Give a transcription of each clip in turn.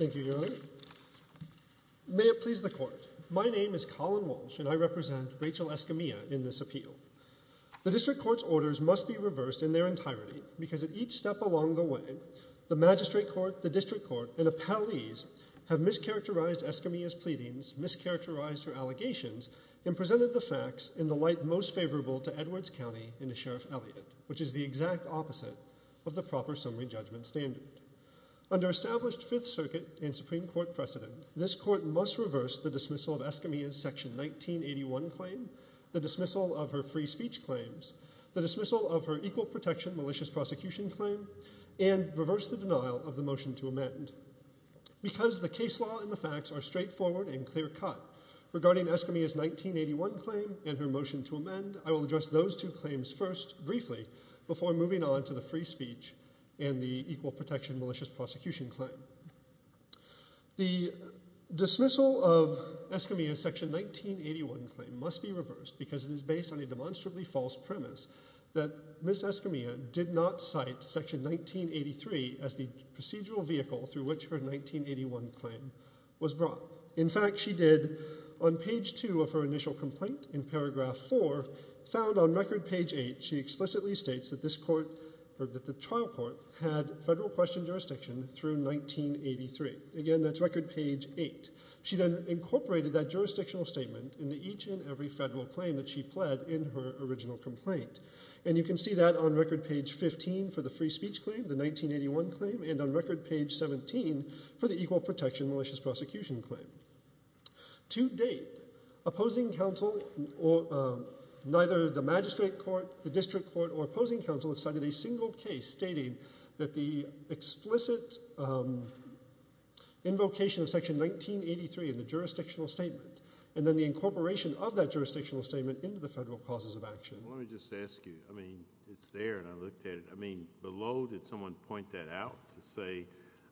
May it please the Court, my name is Colin Walsh and I represent Rachel Escamilla in this appeal. The District Court's orders must be reversed in their entirety because at each step along the way, the Magistrate Court, the District Court, and appellees have mischaracterized Escamilla's pleadings, mischaracterized her allegations, and presented the facts in the Sheriff Elliott, which is the exact opposite of the proper summary judgment standard. Under established Fifth Circuit and Supreme Court precedent, this Court must reverse the dismissal of Escamilla's Section 1981 claim, the dismissal of her free speech claims, the dismissal of her equal protection malicious prosecution claim, and reverse the denial of the motion to amend. Because the case law and the facts are straightforward and clear-cut regarding Escamilla's 1981 claim and her motion to amend, I will address those two claims first briefly before moving on to the free speech and the equal protection malicious prosecution claim. The dismissal of Escamilla's Section 1981 claim must be reversed because it is based on a demonstrably false premise that Ms. Escamilla did not cite Section 1983 as the procedural vehicle through which her 1981 claim was brought. In fact, she did, on page two of her initial complaint in paragraph four, found on record page eight, she explicitly states that the trial court had federal question jurisdiction through 1983. Again, that's record page eight. She then incorporated that jurisdictional statement into each and every federal claim that she pled in her original complaint. And you can see that on record page 15 for the free speech claim, the 1981 claim, and on record page 17 for the equal protection malicious prosecution claim. To date, opposing counsel, neither the magistrate court, the district court, or opposing counsel have cited a single case stating that the explicit invocation of Section 1983 in the jurisdictional statement, and then the incorporation of that jurisdictional statement into the federal causes of action. Let me just ask you, I mean, it's there and I looked at it. I mean, below, did someone point that out to say,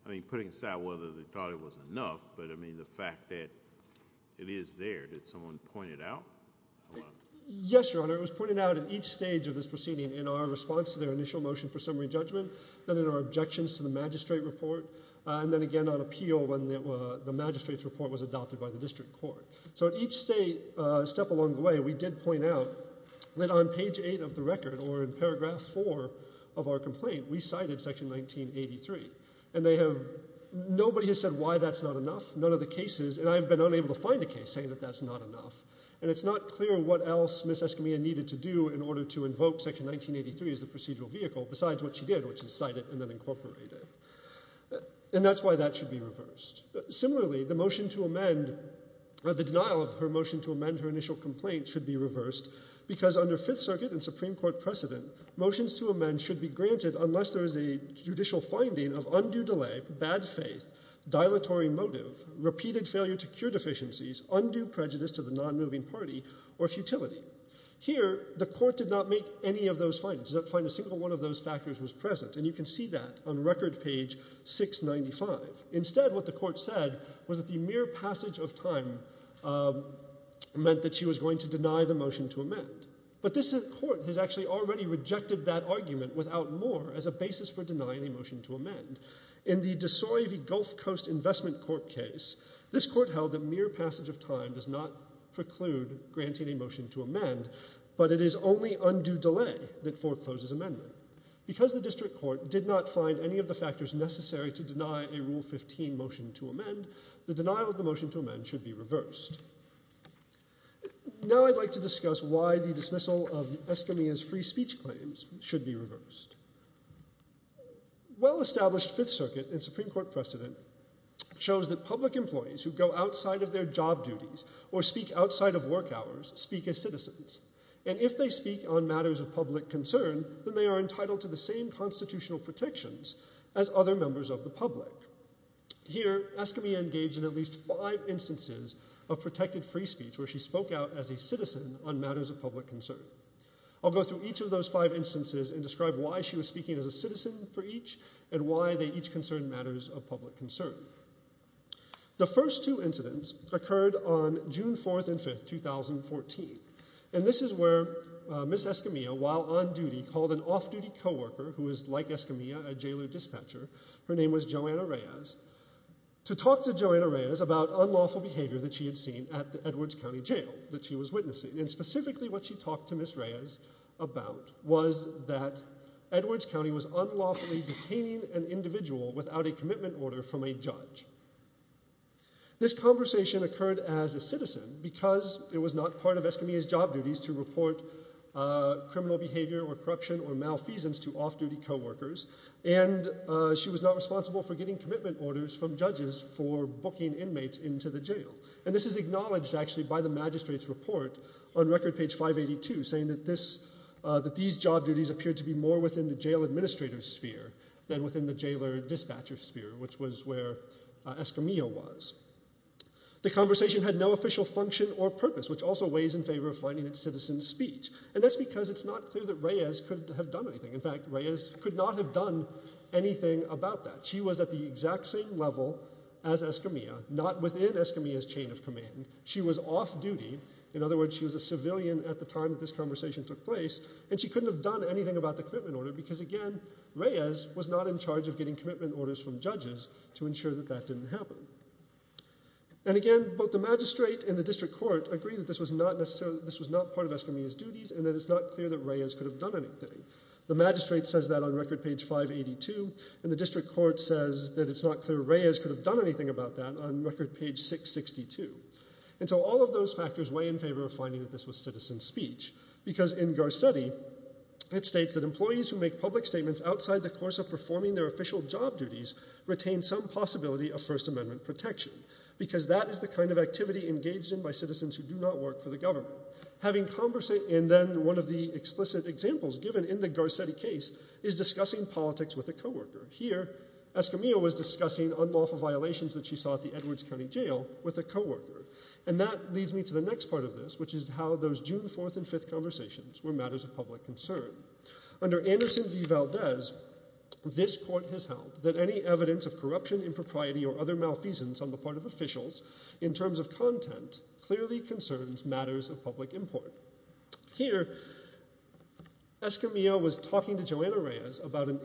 I mean, putting aside whether they thought it was enough, but I mean, the fact that it is there, did someone point it out? Yes, Your Honor. It was pointed out at each stage of this proceeding in our response to their initial motion for summary judgment, then in our objections to the magistrate report, and then again on appeal when the magistrate's report was adopted by the district court. So at each state, a step along the way, we did point out that on page eight of the record, or in paragraph four of our complaint, we cited Section 1983. And they have, nobody has said why that's not enough. None of the cases, and I've been unable to find a case saying that that's not enough. And it's not clear what else Ms. Escamilla needed to do in order to invoke Section 1983 as the procedural vehicle, besides what she did, which is cite it and then incorporate it. And that's why that should be reversed. Similarly, the motion to amend, the denial of her motion to amend her initial complaint should be reversed because under Fifth Circuit and Supreme Court precedent, motions to amend should be granted unless there is a judicial finding of undue delay, bad faith, dilatory motive, repeated failure to cure deficiencies, undue prejudice to the nonmoving party, or futility. Here, the court did not make any of those findings. It did not find a single one of those factors was present. And you can see that on record page 695. Instead, what the court said was that the mere passage of time meant that she was going to deny the motion to amend. But this court has actually already rejected that argument without more as a basis for denying a motion to amend. In the DeSoy v. Gulf Coast Investment Corp case, this court held that mere passage of time does not preclude granting a motion to amend, but it is only undue delay that forecloses amendment. Because the district court did not find any of the factors necessary to deny a Rule 15 motion to amend, the denial of the motion to amend should be reversed. Now I'd like to discuss why the dismissal of Escamilla's free speech claims should be reversed. Well-established Fifth Circuit and Supreme Court precedent shows that public employees who go outside of their job duties or speak outside of work hours speak as citizens. And if they speak on matters of public concern, then they are entitled to the same constitutional protections as other members of the public. Here, Escamilla engaged in at least five instances of protected free speech where she spoke out as a citizen on matters of public concern. I'll go through each of those five instances and describe why she was speaking as a citizen for each and why they each concerned matters of public concern. The first two incidents occurred on June 4th and 5th, 2014. And this is where Ms. Escamilla, while on duty, called an off-duty co-worker who is like Escamilla, a jailer dispatcher, her name was Joanna Reyes, to talk to Joanna Reyes about unlawful behavior that she had seen at the Edwards County Jail that she was witnessing. And specifically what she talked to Ms. Reyes about was that Edwards County was unlawfully detaining an individual without a commitment order from a judge. This conversation occurred as a citizen because it was not part of Escamilla's job duties to report criminal behavior or corruption or malfeasance to off-duty co-workers and she was not responsible for getting commitment orders from judges for booking inmates into the jail. And this is acknowledged actually by the magistrate's report on record page 582, saying that these job duties appeared to be more within the jail administrator's sphere than within the jailer dispatcher's sphere, which was where Escamilla was. The conversation had no official function or purpose, which also weighs in favor of finding its citizen's speech. And that's because it's not clear that Reyes could have done anything. In fact, Reyes could not have done anything about that. She was at the exact same level as Escamilla, not within Escamilla's chain of command. She was off-duty. In other words, she was a civilian at the time that this conversation took place and she couldn't have done anything about the commitment order because, again, Reyes was not in charge of getting commitment orders from judges to ensure that that didn't happen. And again, both the magistrate and the district court agree that this was not part of Escamilla's duties and that it's not clear that Reyes could have done anything. The magistrate says that on record page 582, and the district court says that it's not clear Reyes could have done anything about that on record page 662. And so all of those factors weigh in favor of finding that this was citizen's speech because in Garcetti, it states that employees who make public statements outside the course of performing their official job duties retain some possibility of First Amendment protection because that is the kind of activity engaged in by citizens who do not work for the government. And then one of the explicit examples given in the Garcetti case is discussing politics with a co-worker. Here, Escamilla was discussing unlawful violations that she saw at the Edwards County Jail with a co-worker. And that leads me to the next part of this, which is how those June 4th and 5th conversations were matters of public concern. Under Anderson v. Valdez, this court has held that any evidence of corruption, impropriety, or other malfeasance on the part of officials in terms of content clearly concerns matters of public import. Here, Escamilla was talking to Joanna Reyes about an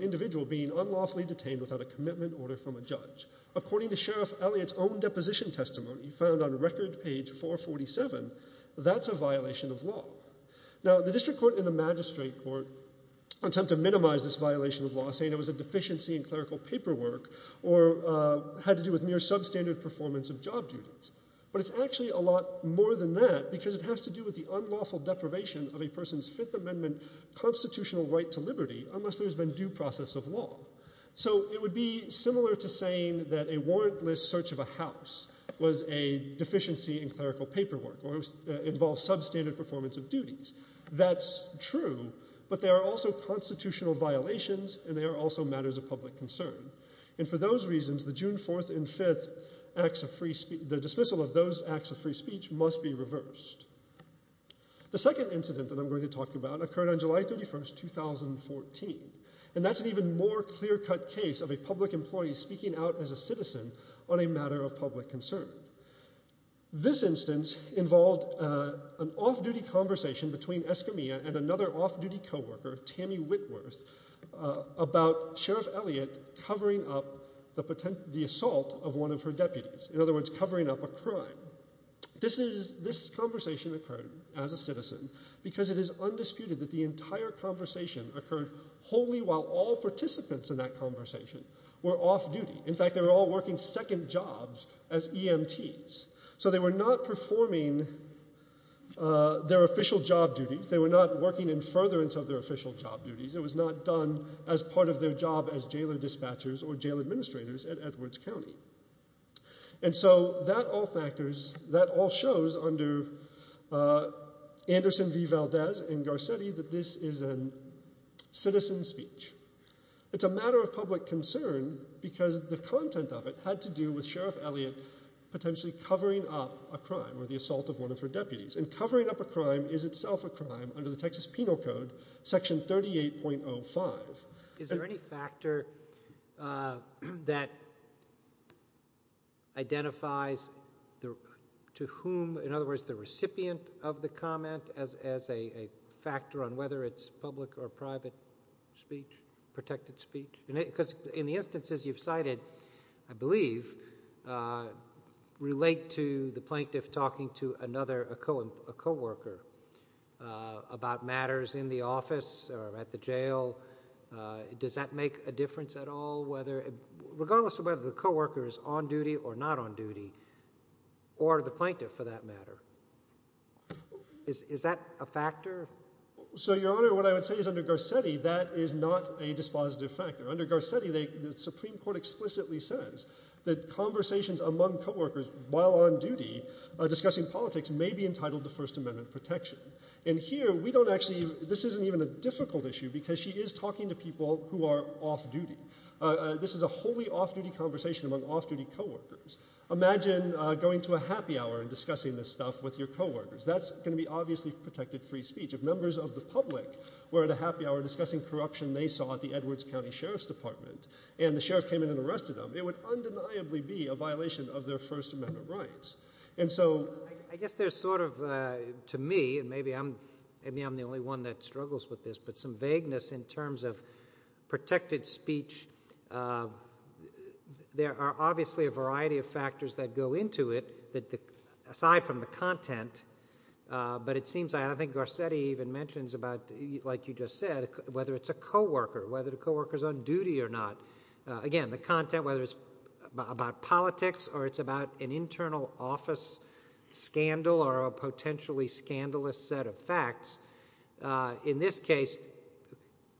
individual being unlawfully detained without a commitment order from a judge. According to Sheriff Elliott's own deposition testimony found on record page 447, that's a violation of law. Now, the district court and the magistrate court attempt to minimize this violation of law, saying it was a deficiency in clerical paperwork or had to do with mere substandard performance of job duties. But it's actually a lot more than that because it has to do with the unlawful deprivation of a person's Fifth Amendment constitutional right to liberty unless there's been due process of law. So it would be similar to saying that a warrantless search of a house was a deficiency in clerical paperwork or involved substandard performance of duties. That's true, but there are also constitutional violations and there are also matters of public concern. And for those reasons, the dismissal of those acts of free speech must be reversed. The second incident that I'm going to talk about occurred on July 31, 2014. And that's an even more clear-cut case of a public employee speaking out as a citizen on a matter of public concern. This instance involved an off-duty conversation between Escamilla and another off-duty co-worker, Tammy Whitworth, about Sheriff Elliott covering up the assault of one of her deputies. In other words, covering up a crime. This conversation occurred as a citizen because it is undisputed that the entire conversation occurred wholly while all participants in that conversation were off-duty. In fact, they were all working second jobs as EMTs. So they were not performing their official job duties. They were not working in furtherance of their official job duties. It was not done as part of their job as jailer dispatchers or jail administrators at Edwards County. And so that all factors, that all shows under Anderson v. Valdez and Garcetti that this is a citizen speech. It's a matter of public concern because the content of it had to do with Sheriff Elliott potentially covering up a crime or the assault of one of her deputies. And covering up a crime is itself a crime under the Texas Penal Code, Section 38.05. Is there any factor that identifies to whom, in other words, the recipient of the comment as a factor on whether it's public or private speech, protected speech? Because in the instances you've cited, I believe, relate to the plaintiff talking to another, a coworker, about matters in the office or at the jail. Does that make a difference at all whether, regardless of whether the coworker is on duty or not on duty or the plaintiff, for that matter? Is that a factor? So, Your Honor, what I would say is under Garcetti, that is not a dispositive factor. Under Garcetti, the Supreme Court explicitly says that conversations among coworkers while on duty discussing politics may be entitled to First Amendment protection. And here, we don't actually, this isn't even a difficult issue because she is talking to people who are off duty. This is a wholly off-duty conversation among off-duty coworkers. Imagine going to a happy hour and discussing this stuff with your coworkers. That's going to be obviously protected free speech. If members of the public were at a happy hour discussing corruption they saw at the Edwards County Sheriff's Department and the sheriff came in and arrested them, it would undeniably be a violation of their First Amendment rights. And so... I guess there's sort of, to me, and maybe I'm the only one that struggles with this, but some vagueness in terms of protected speech. There are obviously a variety of factors that go into it, aside from the content, but it seems I don't think Garcetti even mentions about, like you just said, whether it's a coworker, whether the coworker's on duty or not. Again, the content, whether it's about politics or it's about an internal office scandal or a potentially scandalous set of facts. In this case,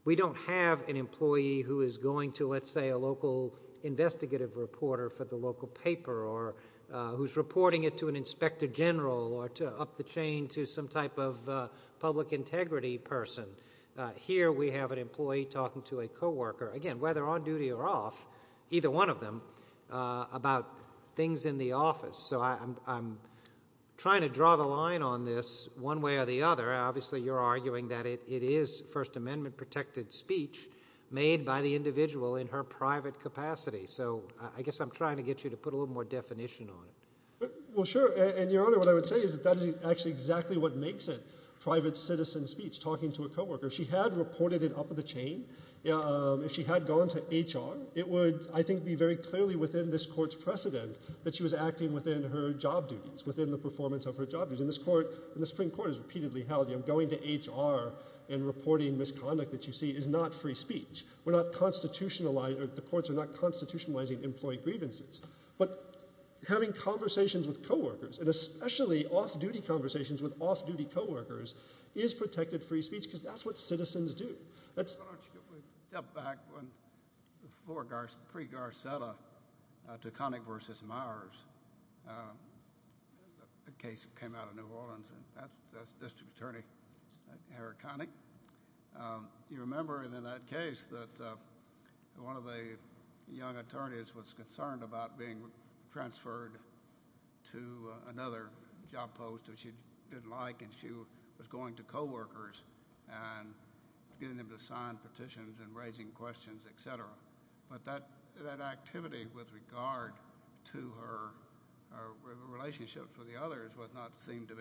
we don't have an employee who is going to, let's say, a local investigative reporter for the local paper or who's reporting it to an inspector general or up the chain to some type of public integrity person. Here we have an employee talking to a coworker, again, whether on duty or off, either one of them, about things in the office. So I'm trying to draw the line on this one way or the other. Obviously you're arguing that it is First Amendment-protected speech made by the individual in her private capacity. So I guess I'm trying to get you to put a little more definition on it. Well, sure, and, Your Honor, what I would say is that that is actually exactly what makes it private citizen speech, talking to a coworker. If she had reported it up the chain, if she had gone to HR, it would, I think, be very clearly within this court's precedent that she was acting within her job duties, within the performance of her job duties. And the Supreme Court has repeatedly held going to HR and reporting misconduct that you see is not free speech. The courts are not constitutionalizing employee grievances. But having conversations with coworkers, and especially off-duty conversations with off-duty coworkers, is protected free speech, because that's what citizens do. Why don't you give me a step back from pre-Garcetta to Connick v. Myers, the case that came out of New Orleans, and that's District Attorney Eric Connick. You remember in that case that one of the young attorneys was concerned about being transferred to another job post, which she didn't like, and she was going to coworkers and getting them to sign petitions and raising questions, et cetera. But that activity with regard to her relationship with the others was not seen to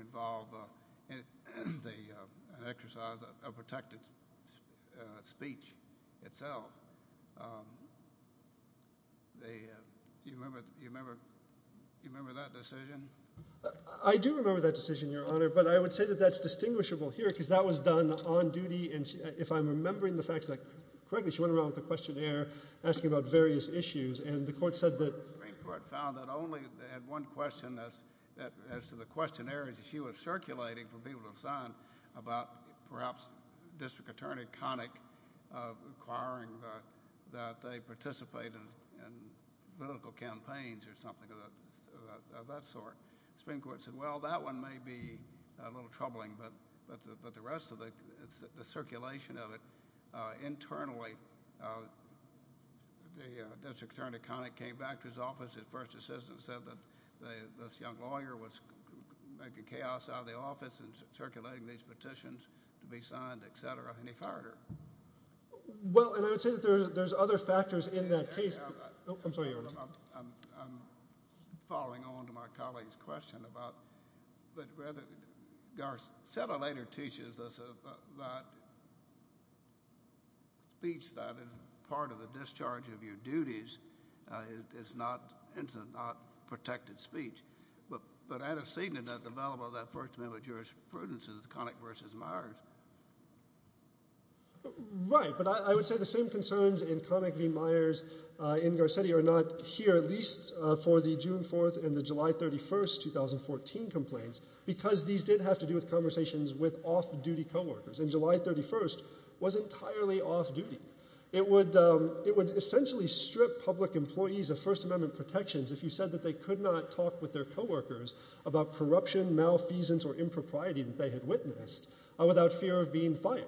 involve an exercise of protected speech itself. Do you remember that decision? I do remember that decision, Your Honor, but I would say that that's distinguishable here because that was done on duty, and if I'm remembering the facts correctly, she went around with a questionnaire asking about various issues, and the Supreme Court found that only one question as to the questionnaires that she was circulating for people to sign about perhaps District Attorney Connick requiring that they participate in political campaigns or something of that sort. The Supreme Court said, well, that one may be a little troubling, but the rest of it, the circulation of it internally, the District Attorney Connick came back to his office and first assistant said that this young lawyer was making chaos out of the office and circulating these petitions to be signed, et cetera, and he fired her. Well, and I would say that there's other factors in that case. I'm sorry, Your Honor. I'm following on to my colleague's question but rather Garcetti later teaches us about speech that is part of the discharge of your duties. It's not protected speech, but antecedent of the development of that First Amendment jurisprudence is Connick v. Myers. Right, but I would say the same concerns in Connick v. Myers in Garcetti are not here, at least for the June 4th and the July 31st 2014 complaints because these did have to do with conversations with off-duty co-workers, and July 31st was entirely off-duty. It would essentially strip public employees of First Amendment protections if you said that they could not talk with their co-workers about corruption, malfeasance, or impropriety that they had witnessed without fear of being fired,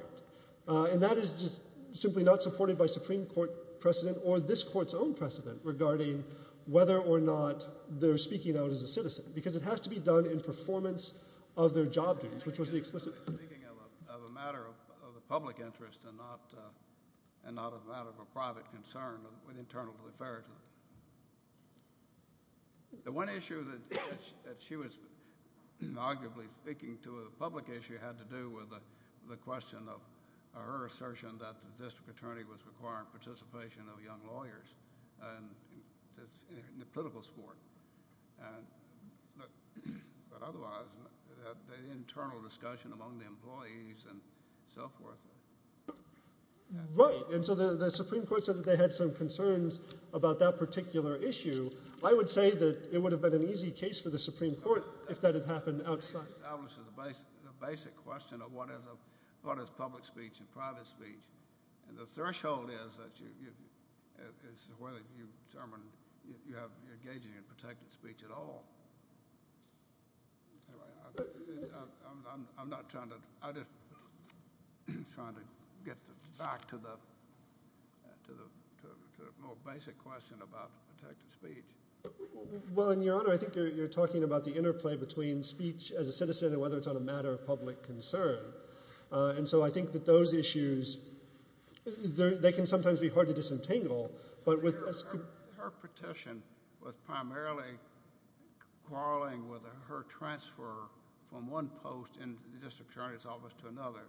and that is just simply not supported by Supreme Court precedent or this court's own precedent regarding whether or not they're speaking out as a citizen because it has to be done in performance of their job duties, which was the explicit purpose. Speaking of a matter of the public interest and not a matter of a private concern with internal affairs, the one issue that she was arguably speaking to, a public issue, had to do with the question of her assertion that the district attorney was requiring participation of young lawyers in the political sport. But otherwise, the internal discussion among the employees and so forth. Right, and so the Supreme Court said that they had some concerns about that particular issue. I would say that it would have been an easy case for the Supreme Court if that had happened outside. It establishes the basic question of what is public speech and private speech, and the threshold is whether you determine you're engaging in protected speech at all. I'm not trying to – I'm just trying to get back to the more basic question about protected speech. Well, in your honor, I think you're talking about the interplay between speech as a citizen and whether it's on a matter of public concern. And so I think that those issues, they can sometimes be hard to disentangle. Her petition was primarily quarreling with her transfer from one post in the district attorney's office to another.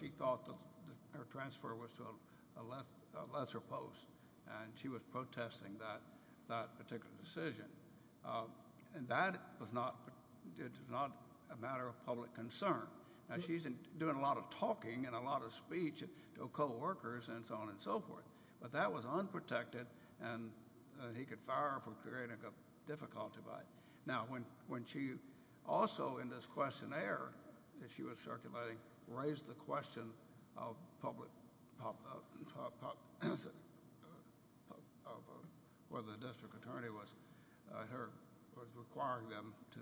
She thought that her transfer was to a lesser post, and she was protesting that particular decision. And that was not a matter of public concern. Now, she's doing a lot of talking and a lot of speech to coworkers and so on and so forth. But that was unprotected, and he could fire her for creating a difficulty. Now, when she also in this questionnaire that she was circulating raised the question of whether the district attorney was requiring them to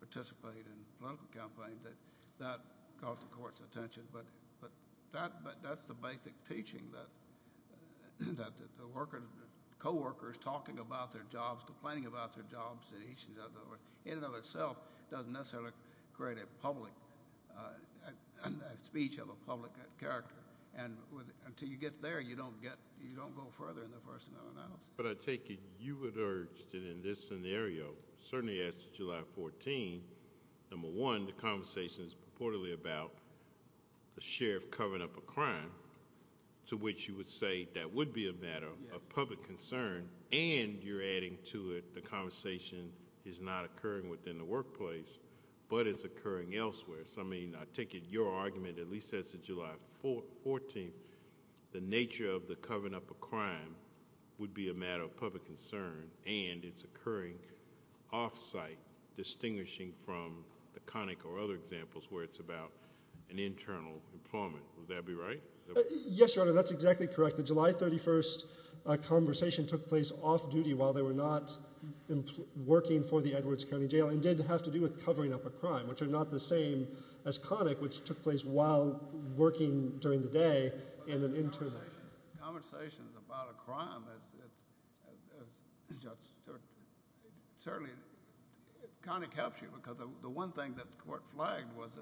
participate in political campaigns, that got the court's attention. But that's the basic teaching, that coworkers talking about their jobs, complaining about their jobs in each and every way, in and of itself doesn't necessarily create a speech of a public character. And until you get there, you don't go further in the personnel analysis. But I take it you would urge that in this scenario, certainly as to July 14, number one, the conversation is purportedly about the sheriff covering up a crime, to which you would say that would be a matter of public concern, and you're adding to it the conversation is not occurring within the workplace, but it's occurring elsewhere. So, I mean, I take it your argument, at least as to July 14, the nature of the covering up a crime would be a matter of public concern, and it's occurring off-site, distinguishing from the Connick or other examples where it's about an internal employment. Would that be right? Yes, Your Honor, that's exactly correct. The July 31st conversation took place off-duty while they were not working for the Edwards County Jail and did have to do with covering up a crime, which are not the same as Connick, which took place while working during the day in an internment. Conversations about a crime, certainly Connick helps you because the one thing that the court flagged was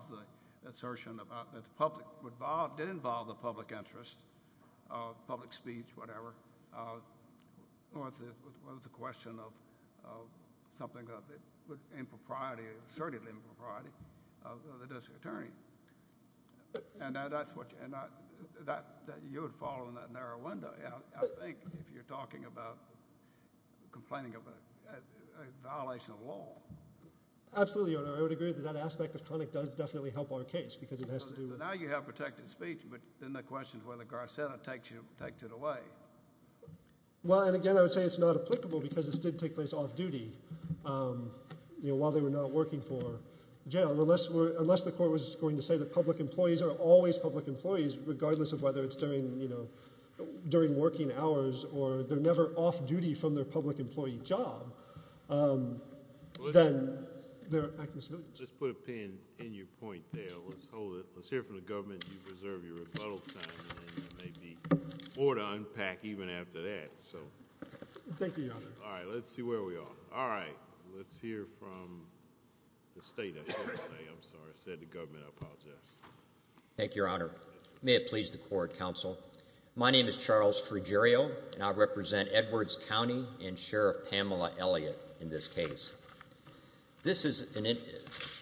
the assertion that the public involved, and it involved the public interest, public speech, whatever, was the question of something of impropriety, assertively impropriety of the district attorney. And that's what you would follow in that narrow window, I think, if you're talking about complaining of a violation of law. Absolutely, Your Honor. I would agree that that aspect of Connick does definitely help our case because it has to do with now you have protected speech, but then the question is whether Garcetta takes it away. Well, and again, I would say it's not applicable because this did take place off-duty while they were not working for the jail. Unless the court was going to say that public employees are always public employees, regardless of whether it's during working hours or they're never off-duty from their public employee job, then they're acting smoothly. Let's put a pin in your point there. Let's hold it. Let's hear from the government. You've reserved your rebuttal time, and then there may be more to unpack even after that. Thank you, Your Honor. All right. Let's see where we are. All right. Let's hear from the state, I should say. I'm sorry. I said the government. I apologize. Thank you, Your Honor. May it please the court, counsel. My name is Charles Fruggerio, and I represent Edwards County and Sheriff Pamela Elliott in this case. This is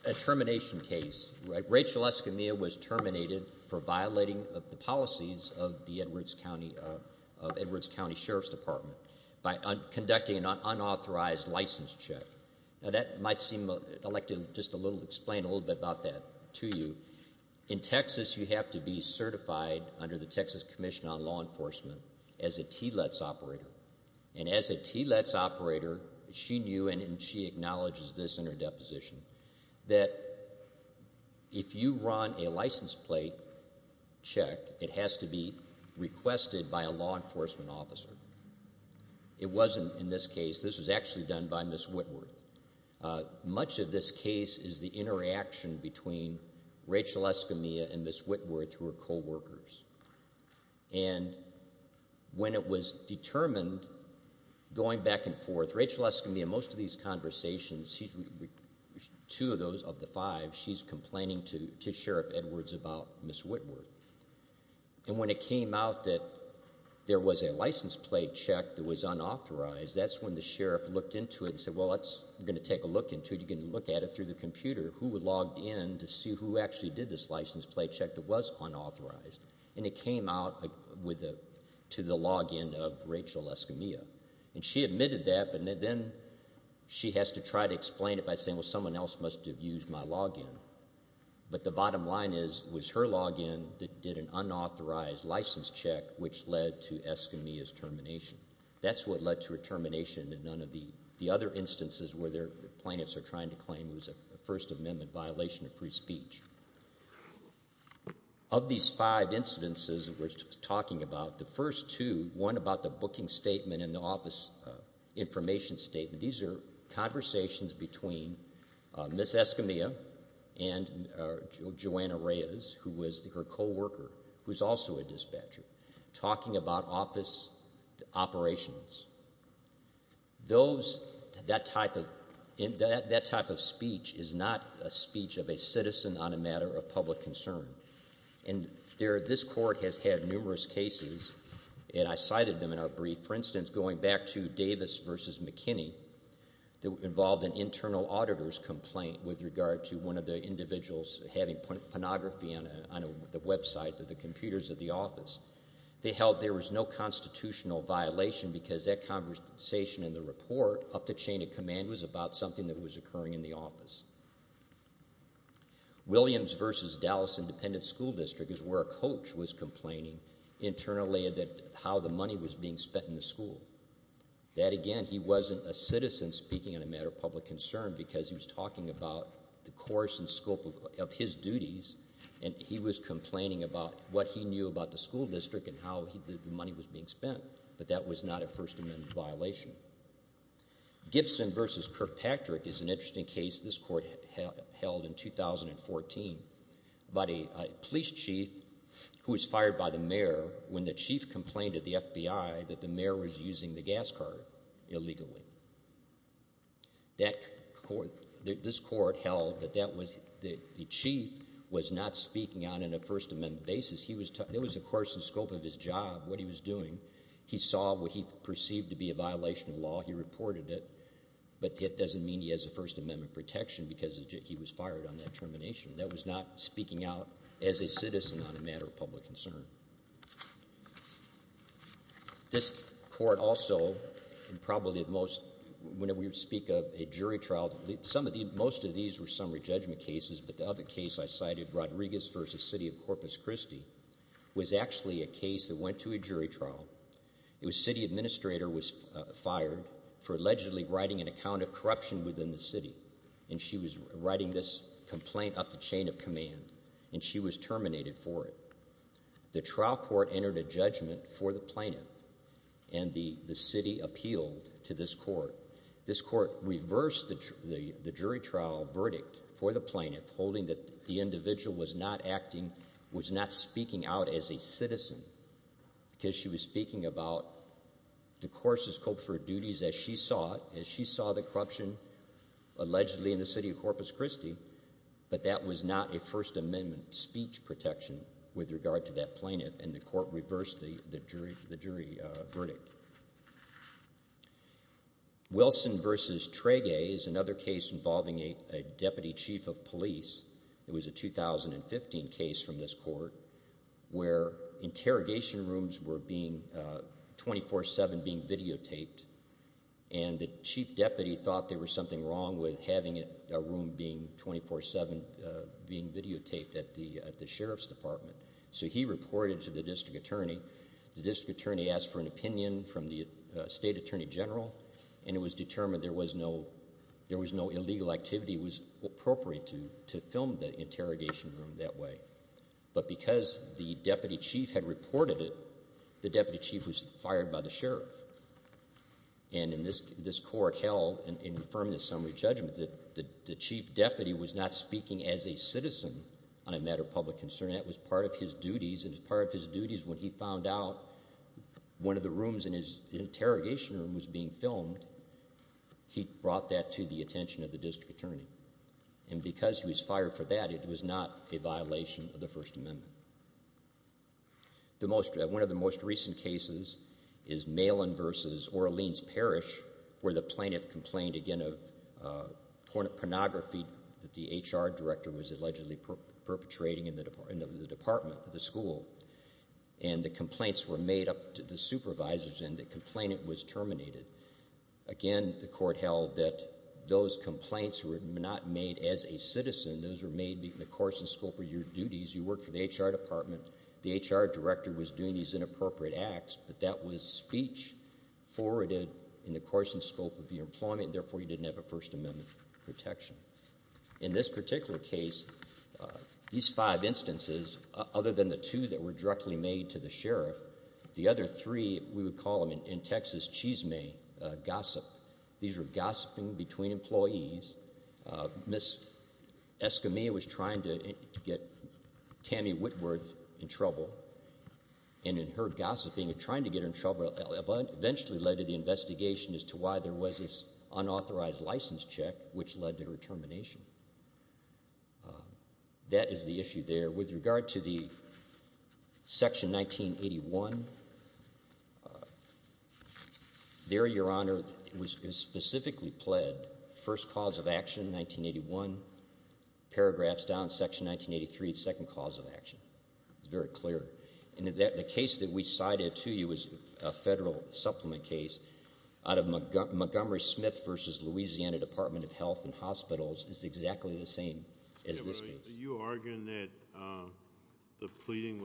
a termination case. Rachel Escamilla was terminated for violating the policies of the Edwards County Sheriff's Department by conducting an unauthorized license check. Now that might seem—I'd like to just explain a little bit about that to you. In Texas, you have to be certified under the Texas Commission on Law Enforcement as a TLETS operator. And as a TLETS operator, she knew, and she acknowledges this in her deposition, that if you run a license plate check, it has to be requested by a law enforcement officer. It wasn't in this case. This was actually done by Ms. Whitworth. Much of this case is the interaction between Rachel Escamilla and Ms. Whitworth, who are coworkers. And when it was determined, going back and forth, Rachel Escamilla, most of these conversations, two of those of the five, she's complaining to Sheriff Edwards about Ms. Whitworth. And when it came out that there was a license plate check that was unauthorized, that's when the sheriff looked into it and said, well, let's take a look into it. You can look at it through the computer. Who would log in to see who actually did this license plate check that was unauthorized? And it came out to the login of Rachel Escamilla. And she admitted that, but then she has to try to explain it by saying, well, someone else must have used my login. But the bottom line is it was her login that did an unauthorized license check, which led to Escamilla's termination. That's what led to her termination. And none of the other instances where plaintiffs are trying to claim it was a First Amendment violation of free speech. Of these five incidences we're talking about, the first two, one about the booking statement and the office information statement, these are conversations between Ms. Escamilla and Joanna Reyes, who was her coworker, who's also a dispatcher, talking about office operations. That type of speech is not a speech of a citizen on a matter of public concern. And this court has had numerous cases, and I cited them in our brief. For instance, going back to Davis v. McKinney that involved an internal auditor's complaint with regard to one of the individuals having pornography on the website of the computers of the office. They held there was no constitutional violation because that conversation in the report, up the chain of command, was about something that was occurring in the office. Williams v. Dallas Independent School District is where a coach was complaining internally how the money was being spent in the school. That, again, he wasn't a citizen speaking on a matter of public concern because he was talking about the course and scope of his duties, and he was complaining about what he knew about the school district and how the money was being spent. But that was not a First Amendment violation. Gibson v. Kirkpatrick is an interesting case this court held in 2014 about a police chief who was fired by the mayor when the chief complained to the FBI that the mayor was using the gas card illegally. This court held that the chief was not speaking on a First Amendment basis. It was, of course, the scope of his job, what he was doing. He saw what he perceived to be a violation of law. He reported it, but it doesn't mean he has a First Amendment protection because he was fired on that termination. That was not speaking out as a citizen on a matter of public concern. This court also, and probably at most when we speak of a jury trial, most of these were summary judgment cases, but the other case I cited, Rodriguez v. City of Corpus Christi, was actually a case that went to a jury trial. It was a city administrator who was fired for allegedly writing an account of corruption within the city, and she was writing this complaint up the chain of command, and she was terminated for it. The trial court entered a judgment for the plaintiff, and the city appealed to this court. This court reversed the jury trial verdict for the plaintiff, holding that the individual was not speaking out as a citizen because she was speaking about the court's scope for duties as she saw it, as she saw the corruption allegedly in the city of Corpus Christi, but that was not a First Amendment speech protection with regard to that plaintiff, and the court reversed the jury verdict. Wilson v. Trege is another case involving a deputy chief of police. It was a 2015 case from this court where interrogation rooms were being 24-7 videotaped, and the chief deputy thought there was something wrong with having a room being 24-7 videotaped at the sheriff's department, so he reported to the district attorney. The district attorney asked for an opinion from the state attorney general, and it was determined there was no illegal activity. It was appropriate to film the interrogation room that way, but because the deputy chief had reported it, the deputy chief was fired by the sheriff, and this court held and affirmed the summary judgment that the chief deputy was not speaking as a citizen on a matter of public concern. That was part of his duties, and as part of his duties when he found out one of the rooms in his interrogation room was being filmed, he brought that to the attention of the district attorney, and because he was fired for that, it was not a violation of the First Amendment. One of the most recent cases is Malin v. Orleans Parish, where the plaintiff complained, again, of pornography that the HR director was allegedly perpetrating in the department, the school, and the complaints were made up to the supervisors, and the complainant was terminated. Again, the court held that those complaints were not made as a citizen. Those were made in the course and scope of your duties. You worked for the HR department. The HR director was doing these inappropriate acts, but that was speech forwarded in the course and scope of your employment, and therefore you didn't have a First Amendment protection. In this particular case, these five instances, other than the two that were directly made to the sheriff, the other three we would call them, in Texas, chisme, gossip. These were gossiping between employees. Ms. Escamilla was trying to get Tammy Whitworth in trouble, and in her gossiping, trying to get her in trouble eventually led to the investigation as to why there was this unauthorized license check, which led to her termination. That is the issue there. With regard to the Section 1981, there, Your Honor, was specifically pled first cause of action in 1981. Paragraphs down, Section 1983, second cause of action. It's very clear. And the case that we cited to you is a federal supplement case out of Montgomery Smith v. Louisiana Department of Health and Hospitals. It's exactly the same as this case. Are you arguing that the pleading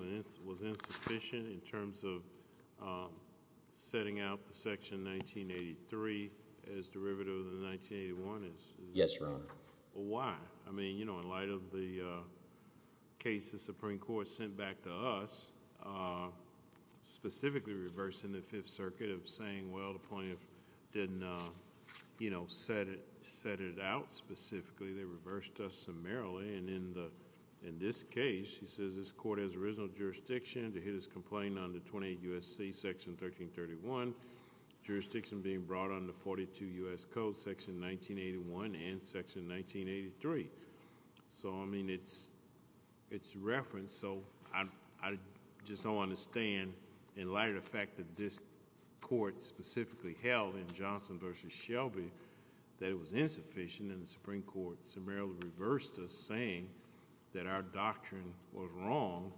was insufficient in terms of setting out the Section 1983 as derivative of the 1981? Yes, Your Honor. Why? I mean, you know, in light of the case the Supreme Court sent back to us, specifically reversed in the Fifth Circuit of saying, well, the plaintiff didn't, you know, set it out specifically. They reversed us summarily. And in this case, he says this court has original jurisdiction to hit his complaint under 28 U.S.C. Section 1331, jurisdiction being brought under 42 U.S.C. Section 1981 and Section 1983. So, I mean, it's referenced. So I just don't understand, in light of the fact that this court specifically held in Johnson v. Shelby that it was insufficient, and the Supreme Court summarily reversed us saying that our doctrine was wrong.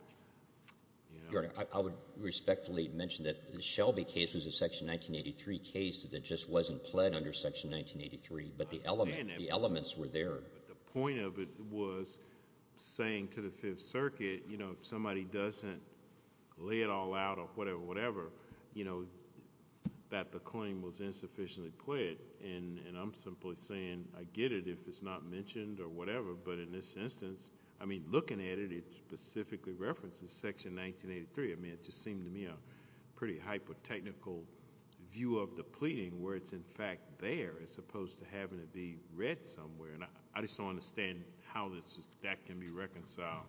Your Honor, I would respectfully mention that the Shelby case was a Section 1983 case that just wasn't pled under Section 1983. But the elements were there. But the point of it was saying to the Fifth Circuit, you know, if somebody doesn't lay it all out or whatever, whatever, you know, that the claim was insufficiently pled. And I'm simply saying I get it if it's not mentioned or whatever. But in this instance, I mean, looking at it, it specifically references Section 1983. I mean, it just seemed to me a pretty hyper-technical view of the pleading where it's, in fact, there, as opposed to having it be read somewhere. And I just don't understand how that can be reconciled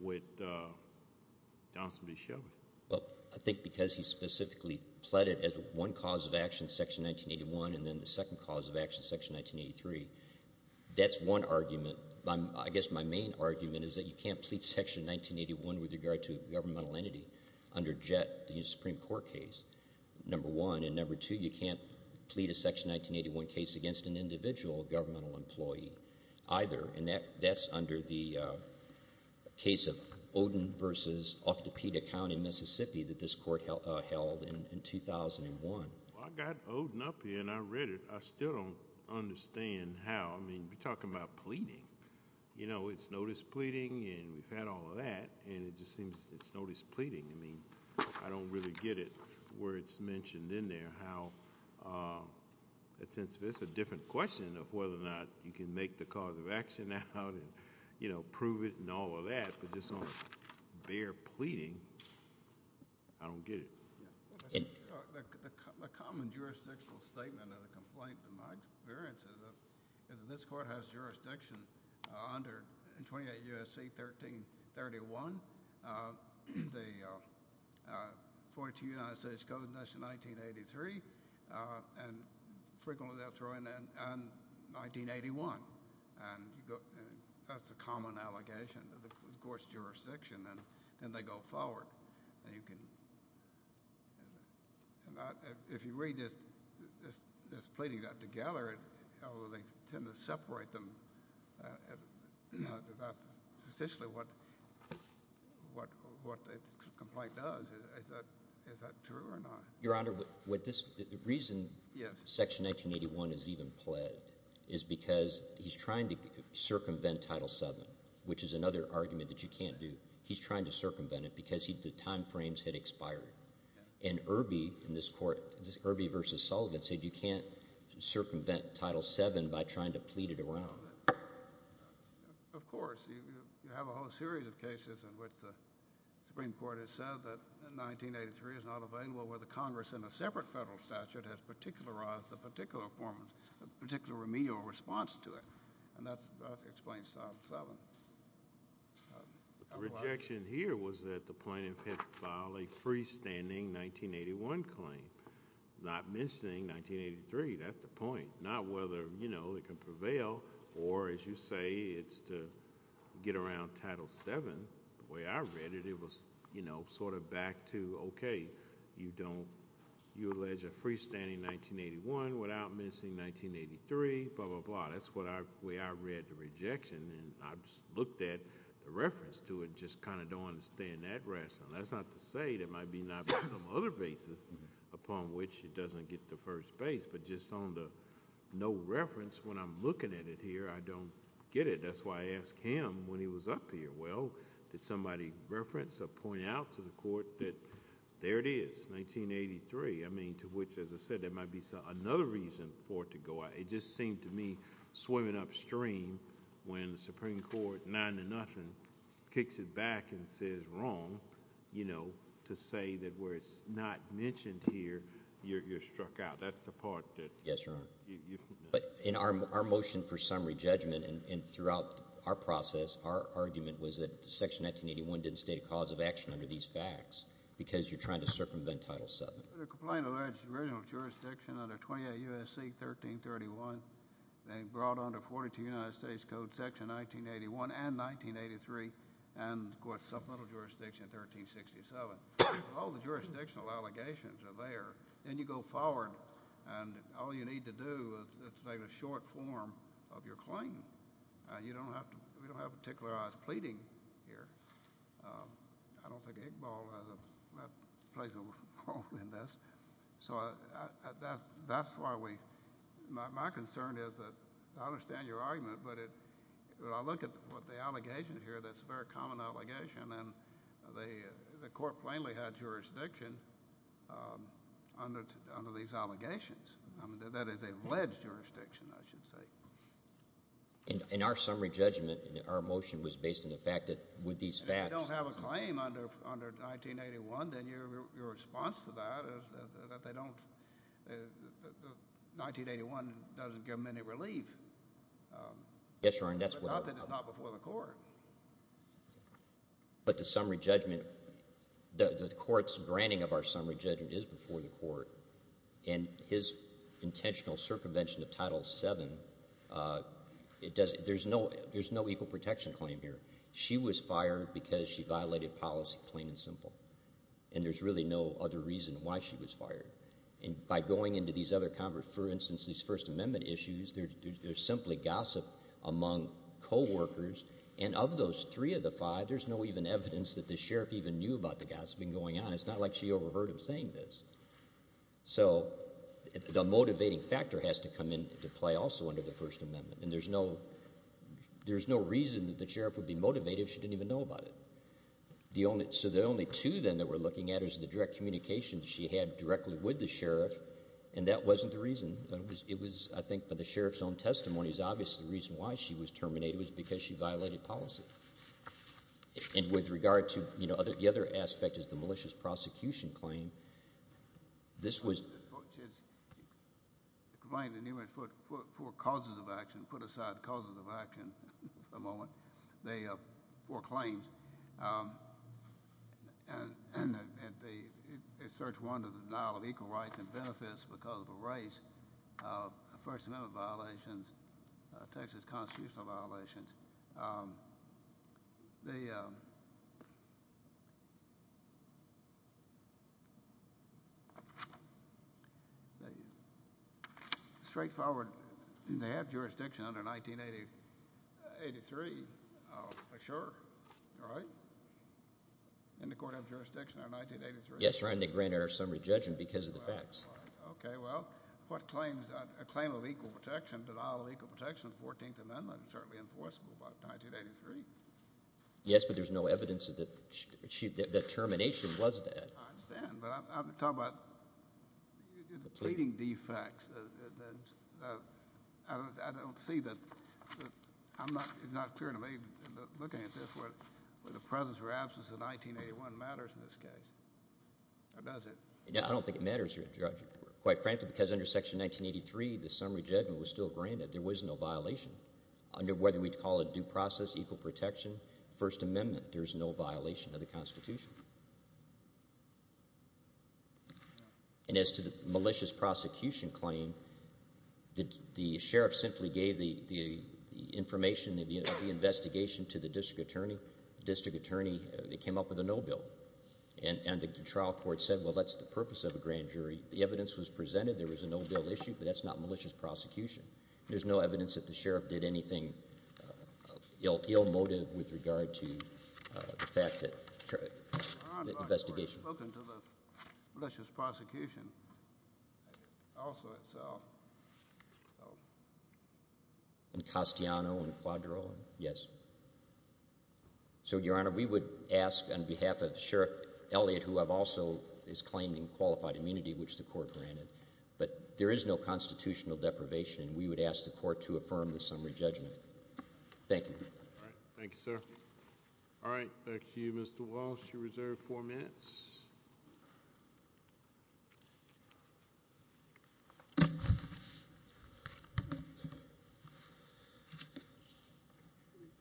with Johnson v. Shelby. Well, I think because he specifically pled it as one cause of action, Section 1981, and then the second cause of action, Section 1983, that's one argument. I guess my main argument is that you can't plead Section 1981 with regard to a governmental entity under Jett, the Supreme Court case, number one. And number two, you can't plead a Section 1981 case against an individual governmental employee either. And that's under the case of Odin v. Octopeda County, Mississippi, that this Court held in 2001. Well, I got Odin up here, and I read it. I still don't understand how. I mean, you're talking about pleading. You know, it's notice pleading, and we've had all of that, and it just seems it's notice pleading. I mean, I don't really get it where it's mentioned in there how, since it's a different question of whether or not you can make the cause of action out and, you know, prove it and all of that, but just on bare pleading, I don't get it. The common jurisdictional statement of the complaint, in my experience, is that this Court has jurisdiction under 28 U.S.C. 1331, the 42 United States Codes, and that's in 1983, and frequently that's right in 1981. And that's a common allegation that the Court's jurisdiction, and then they go forward. If you read this pleading together, they tend to separate them. That's essentially what the complaint does. Is that true or not? Your Honor, the reason Section 1981 is even pled is because he's trying to circumvent Title VII, which is another argument that you can't do. He's trying to circumvent it because the time frames had expired. And Irby in this Court, Irby v. Sullivan, said you can't circumvent Title VII by trying to plead it around. Of course. You have a whole series of cases in which the Supreme Court has said that 1983 is not available where the Congress in a separate federal statute has particularized a particular form, a particular remedial response to it, and that explains Title VII. The rejection here was that the plaintiff had filed a freestanding 1981 claim, not mentioning 1983. That's the point. Not whether, you know, it can prevail or, as you say, it's to get around Title VII. The way I read it, it was, you know, sort of back to, okay, you don't – you allege a freestanding 1981 without missing 1983, blah, blah, blah. That's the way I read the rejection, and I looked at the reference to it, just kind of don't understand that rationale. That's not to say there might be some other basis upon which it doesn't get to first base, but just on the no reference, when I'm looking at it here, I don't get it. That's why I asked him when he was up here, well, did somebody reference or point out to the Court that there it is, 1983? I mean, to which, as I said, there might be another reason for it to go out. It just seemed to me swimming upstream when the Supreme Court, nine to nothing, kicks it back and says wrong, you know, to say that where it's not mentioned here, you're struck out. That's the part that – Yes, Your Honor. But in our motion for summary judgment and throughout our process, our argument was that Section 1981 didn't state a cause of action under these facts because you're trying to circumvent Title VII. The complaint alleged original jurisdiction under 28 U.S.C. 1331. They brought under 42 United States Code Section 1981 and 1983 and, of course, supplemental jurisdiction 1367. All the jurisdictional allegations are there. Then you go forward, and all you need to do is make a short form of your claim. You don't have to – we don't have to particularize pleading here. I don't think Iqbal plays a role in this. So that's why we – my concern is that I understand your argument, but when I look at what the allegation here, that's a very common allegation, and the court plainly had jurisdiction under these allegations. I mean, that is alleged jurisdiction, I should say. In our summary judgment, our motion was based on the fact that with these facts— If they don't have a claim under 1981, then your response to that is that they don't – 1981 doesn't give them any relief. Yes, Your Honor. But not that it's not before the court. But the summary judgment – the court's granting of our summary judgment is before the court, and his intentional circumvention of Title VII, there's no equal protection claim here. She was fired because she violated policy, plain and simple, and there's really no other reason why she was fired. And by going into these other – for instance, these First Amendment issues, they're simply gossip among coworkers, and of those three of the five, there's no even evidence that the sheriff even knew about the gossiping going on. And it's not like she overheard him saying this. So the motivating factor has to come into play also under the First Amendment, and there's no reason that the sheriff would be motivated if she didn't even know about it. So the only two, then, that we're looking at is the direct communication she had directly with the sheriff, and that wasn't the reason. It was, I think, by the sheriff's own testimony is obviously the reason why she was terminated was because she violated policy. And with regard to – the other aspect is the malicious prosecution claim. This was – The complaint in Newman put four causes of action – put aside causes of action for a moment – four claims, and it starts, one, with the denial of equal rights and benefits because of a race, First Amendment violations, Texas constitutional violations. The straightforward – they have jurisdiction under 1983, I'm sure, right? Didn't the court have jurisdiction under 1983? Yes, Your Honor, and they granted our summary judgment because of the facts. Okay. Well, what claims – a claim of equal protection, denial of equal protection of the 14th Amendment is certainly enforceable by 1983. Yes, but there's no evidence that termination was that. I understand, but I'm talking about pleading defects. I don't see that – it's not clear to me, looking at this, whether the presence or absence of 1981 matters in this case, or does it? I don't think it matters, Your Honor. Quite frankly, because under Section 1983, the summary judgment was still granted. There was no violation. Under whether we call it due process, equal protection, First Amendment, there's no violation of the Constitution. And as to the malicious prosecution claim, the sheriff simply gave the information, the investigation to the district attorney. The district attorney came up with a no bill, and the trial court said, well, that's the purpose of a grand jury. The evidence was presented. There was a no bill issue, but that's not malicious prosecution. There's no evidence that the sheriff did anything ill motive with regard to the fact that the investigation. Your Honor, I've spoken to the malicious prosecution also itself. In Castellano and Cuadro? Yes. So, Your Honor, we would ask on behalf of Sheriff Elliott, who also is claiming qualified immunity, which the court granted, but there is no constitutional deprivation. We would ask the court to affirm the summary judgment. Thank you. All right. Thank you, sir. All right. Thank you, Mr. Walsh. You're reserved four minutes.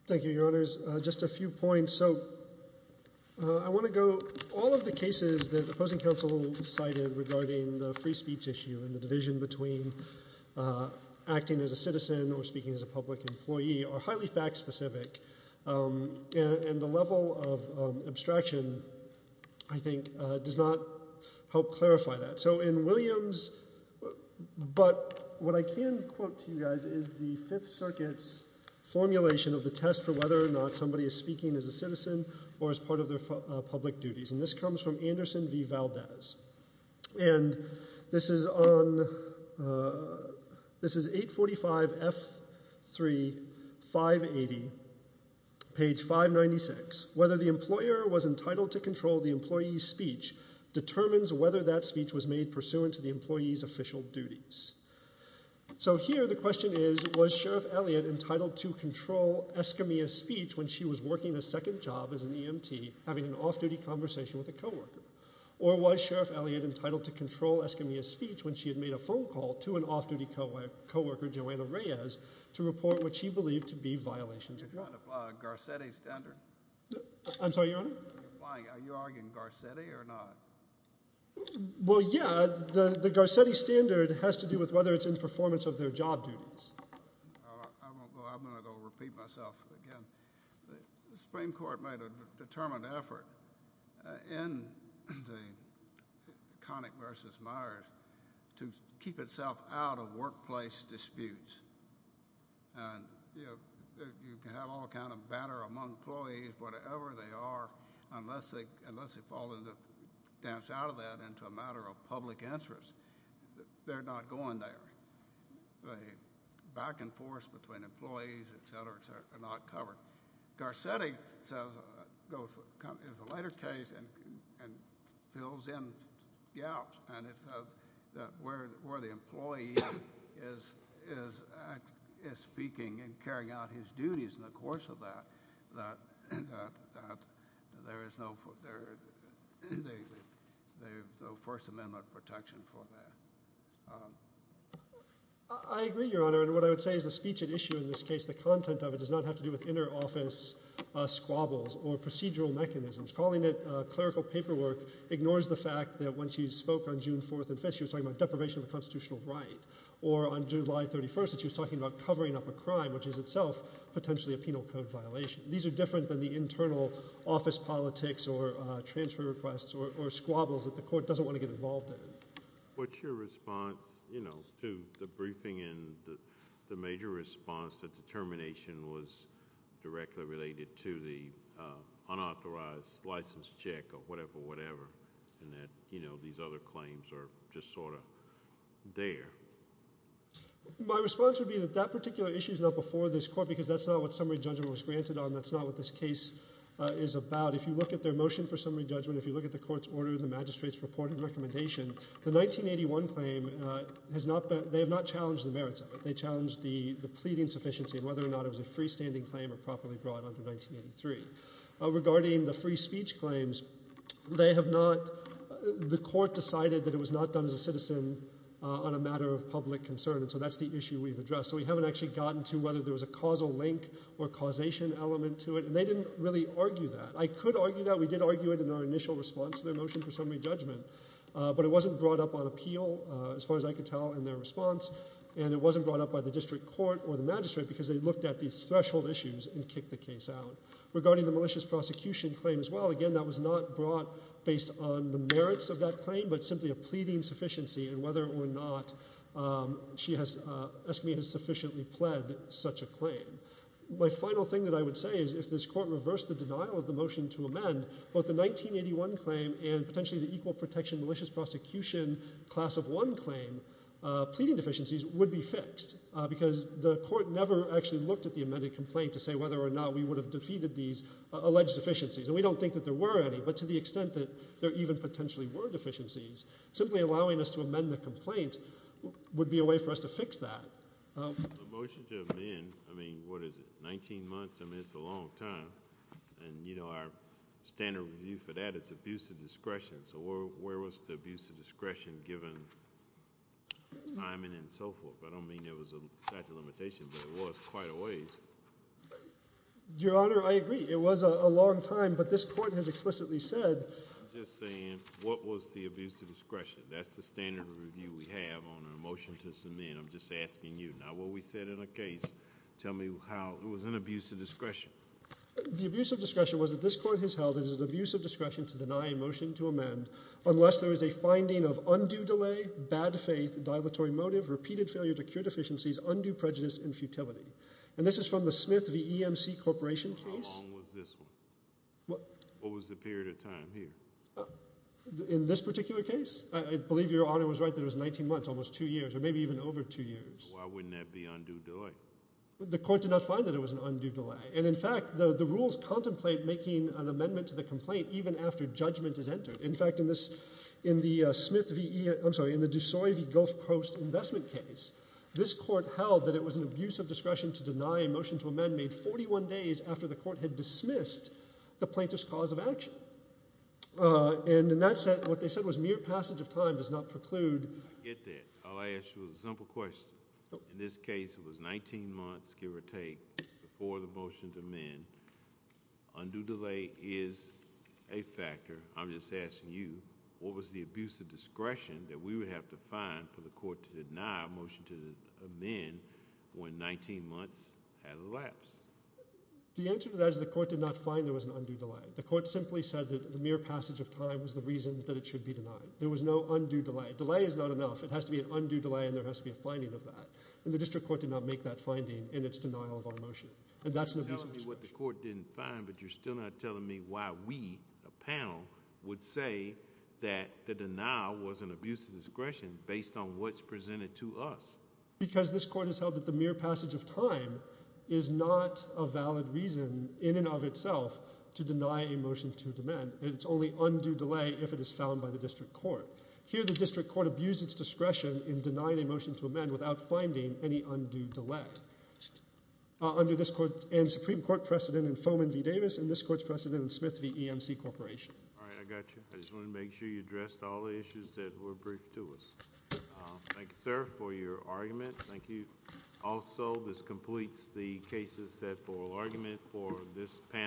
Thank you, Your Honors. Just a few points. So I want to go all of the cases that the opposing counsel cited regarding the free speech issue and the division between acting as a citizen or speaking as a public employee are highly fact specific, and the level of abstraction, I think, does not help clarify that. So in Williams, but what I can quote to you guys is the Fifth Circuit's formulation of the test for whether or not somebody is speaking as a citizen or as part of their public duties, and this comes from Anderson v. Valdez. And this is 845F3580, page 596. Whether the employer was entitled to control the employee's speech determines whether that speech was made pursuant to the employee's official duties. So here the question is, was Sheriff Elliott entitled to control Escamilla's speech when she was working a second job as an EMT having an off-duty conversation with a coworker? Or was Sheriff Elliott entitled to control Escamilla's speech when she had made a phone call to an off-duty coworker, Joanna Reyes, to report what she believed to be violations of her duties? Are you trying to apply a Garcetti standard? I'm sorry, Your Honor? Are you arguing Garcetti or not? Well, yeah. The Garcetti standard has to do with whether it's in performance of their job duties. I'm going to go repeat myself again. The Supreme Court made a determined effort in the Connick v. Myers to keep itself out of workplace disputes. And, you know, you can have all kind of banter among employees, whatever they are, unless they fall into the dance out of that into a matter of public interest, they're not going there. The back and forth between employees, et cetera, et cetera, are not covered. Garcetti is a lighter case and fills in gaps. And it says that where the employee is speaking and carrying out his duties in the course of that, there is no First Amendment protection for that. I agree, Your Honor. And what I would say is the speech at issue in this case, the content of it, does not have to do with inner office squabbles or procedural mechanisms. Calling it clerical paperwork ignores the fact that when she spoke on June 4th and 5th, she was talking about deprivation of a constitutional right. Or on July 31st, she was talking about covering up a crime, which is itself potentially a penal code violation. These are different than the internal office politics or transfer requests or squabbles that the court doesn't want to get involved in. What's your response, you know, to the briefing and the major response that the termination was directly related to the unauthorized license check or whatever, whatever, and that, you know, these other claims are just sort of there? My response would be that that particular issue is not before this court because that's not what summary judgment was granted on. That's not what this case is about. If you look at their motion for summary judgment, if you look at the court's order, the magistrate's report and recommendation, the 1981 claim has not been – they have not challenged the merits of it. They challenged the pleading sufficiency and whether or not it was a freestanding claim or properly brought under 1983. Regarding the free speech claims, they have not – the court decided that it was not done as a citizen on a matter of public concern, and so that's the issue we've addressed. So we haven't actually gotten to whether there was a causal link or causation element to it, and they didn't really argue that. I could argue that. We did argue it in our initial response to their motion for summary judgment, but it wasn't brought up on appeal as far as I could tell in their response, and it wasn't brought up by the district court or the magistrate because they looked at these threshold issues and kicked the case out. Regarding the malicious prosecution claim as well, again, that was not brought based on the merits of that claim but simply a pleading sufficiency and whether or not Escamilla has sufficiently pled such a claim. My final thing that I would say is if this court reversed the denial of the motion to amend, both the 1981 claim and potentially the equal protection malicious prosecution class of one claim, pleading deficiencies would be fixed because the court never actually looked at the amended complaint to say whether or not we would have defeated these alleged deficiencies, and we don't think that there were any, but to the extent that there even potentially were deficiencies, simply allowing us to amend the complaint would be a way for us to fix that. The motion to amend, I mean, what is it, 19 months? I mean it's a long time, and our standard view for that is abuse of discretion. So where was the abuse of discretion given timing and so forth? I don't mean there was a statute of limitations, but there was quite a ways. Your Honor, I agree. It was a long time, but this court has explicitly said— Abuse of discretion. That's the standard review we have on a motion to amend. I'm just asking you. Now what we said in the case, tell me how it was an abuse of discretion. The abuse of discretion was that this court has held it is an abuse of discretion to deny a motion to amend unless there is a finding of undue delay, bad faith, dilatory motive, repeated failure to cure deficiencies, undue prejudice, and futility. And this is from the Smith v. EMC Corporation case. How long was this one? What was the period of time here? In this particular case? I believe Your Honor was right that it was 19 months, almost two years, or maybe even over two years. Why wouldn't that be undue delay? The court did not find that it was an undue delay. And in fact, the rules contemplate making an amendment to the complaint even after judgment is entered. In fact, in the Smith v. E—I'm sorry, in the DeSoy v. Gulf Coast investment case, this court held that it was an abuse of discretion to deny a motion to amend made 41 days after the court had dismissed the plaintiff's cause of action. And in that sense, what they said was mere passage of time does not preclude— I get that. All I asked you was a simple question. In this case, it was 19 months, give or take, before the motion to amend. Undue delay is a factor. I'm just asking you, what was the abuse of discretion that we would have to find for the court to deny a motion to amend when 19 months had elapsed? The answer to that is the court did not find there was an undue delay. The court simply said that the mere passage of time was the reason that it should be denied. There was no undue delay. Delay is not enough. It has to be an undue delay, and there has to be a finding of that. And the district court did not make that finding in its denial of our motion. And that's an abuse of discretion. You're telling me what the court didn't find, but you're still not telling me why we, a panel, would say that the denial was an abuse of discretion based on what's presented to us. Because this court has held that the mere passage of time is not a valid reason in and of itself to deny a motion to amend, and it's only undue delay if it is found by the district court. Here the district court abused its discretion in denying a motion to amend without finding any undue delay. Under this court and Supreme Court precedent in Foman v. Davis, and this court's precedent in Smith v. EMC Corporation. All right, I got you. I just want to make sure you addressed all the issues that were briefed to us. Thank you, sir, for your argument. Thank you. Also, this completes the cases set for argument for this panel.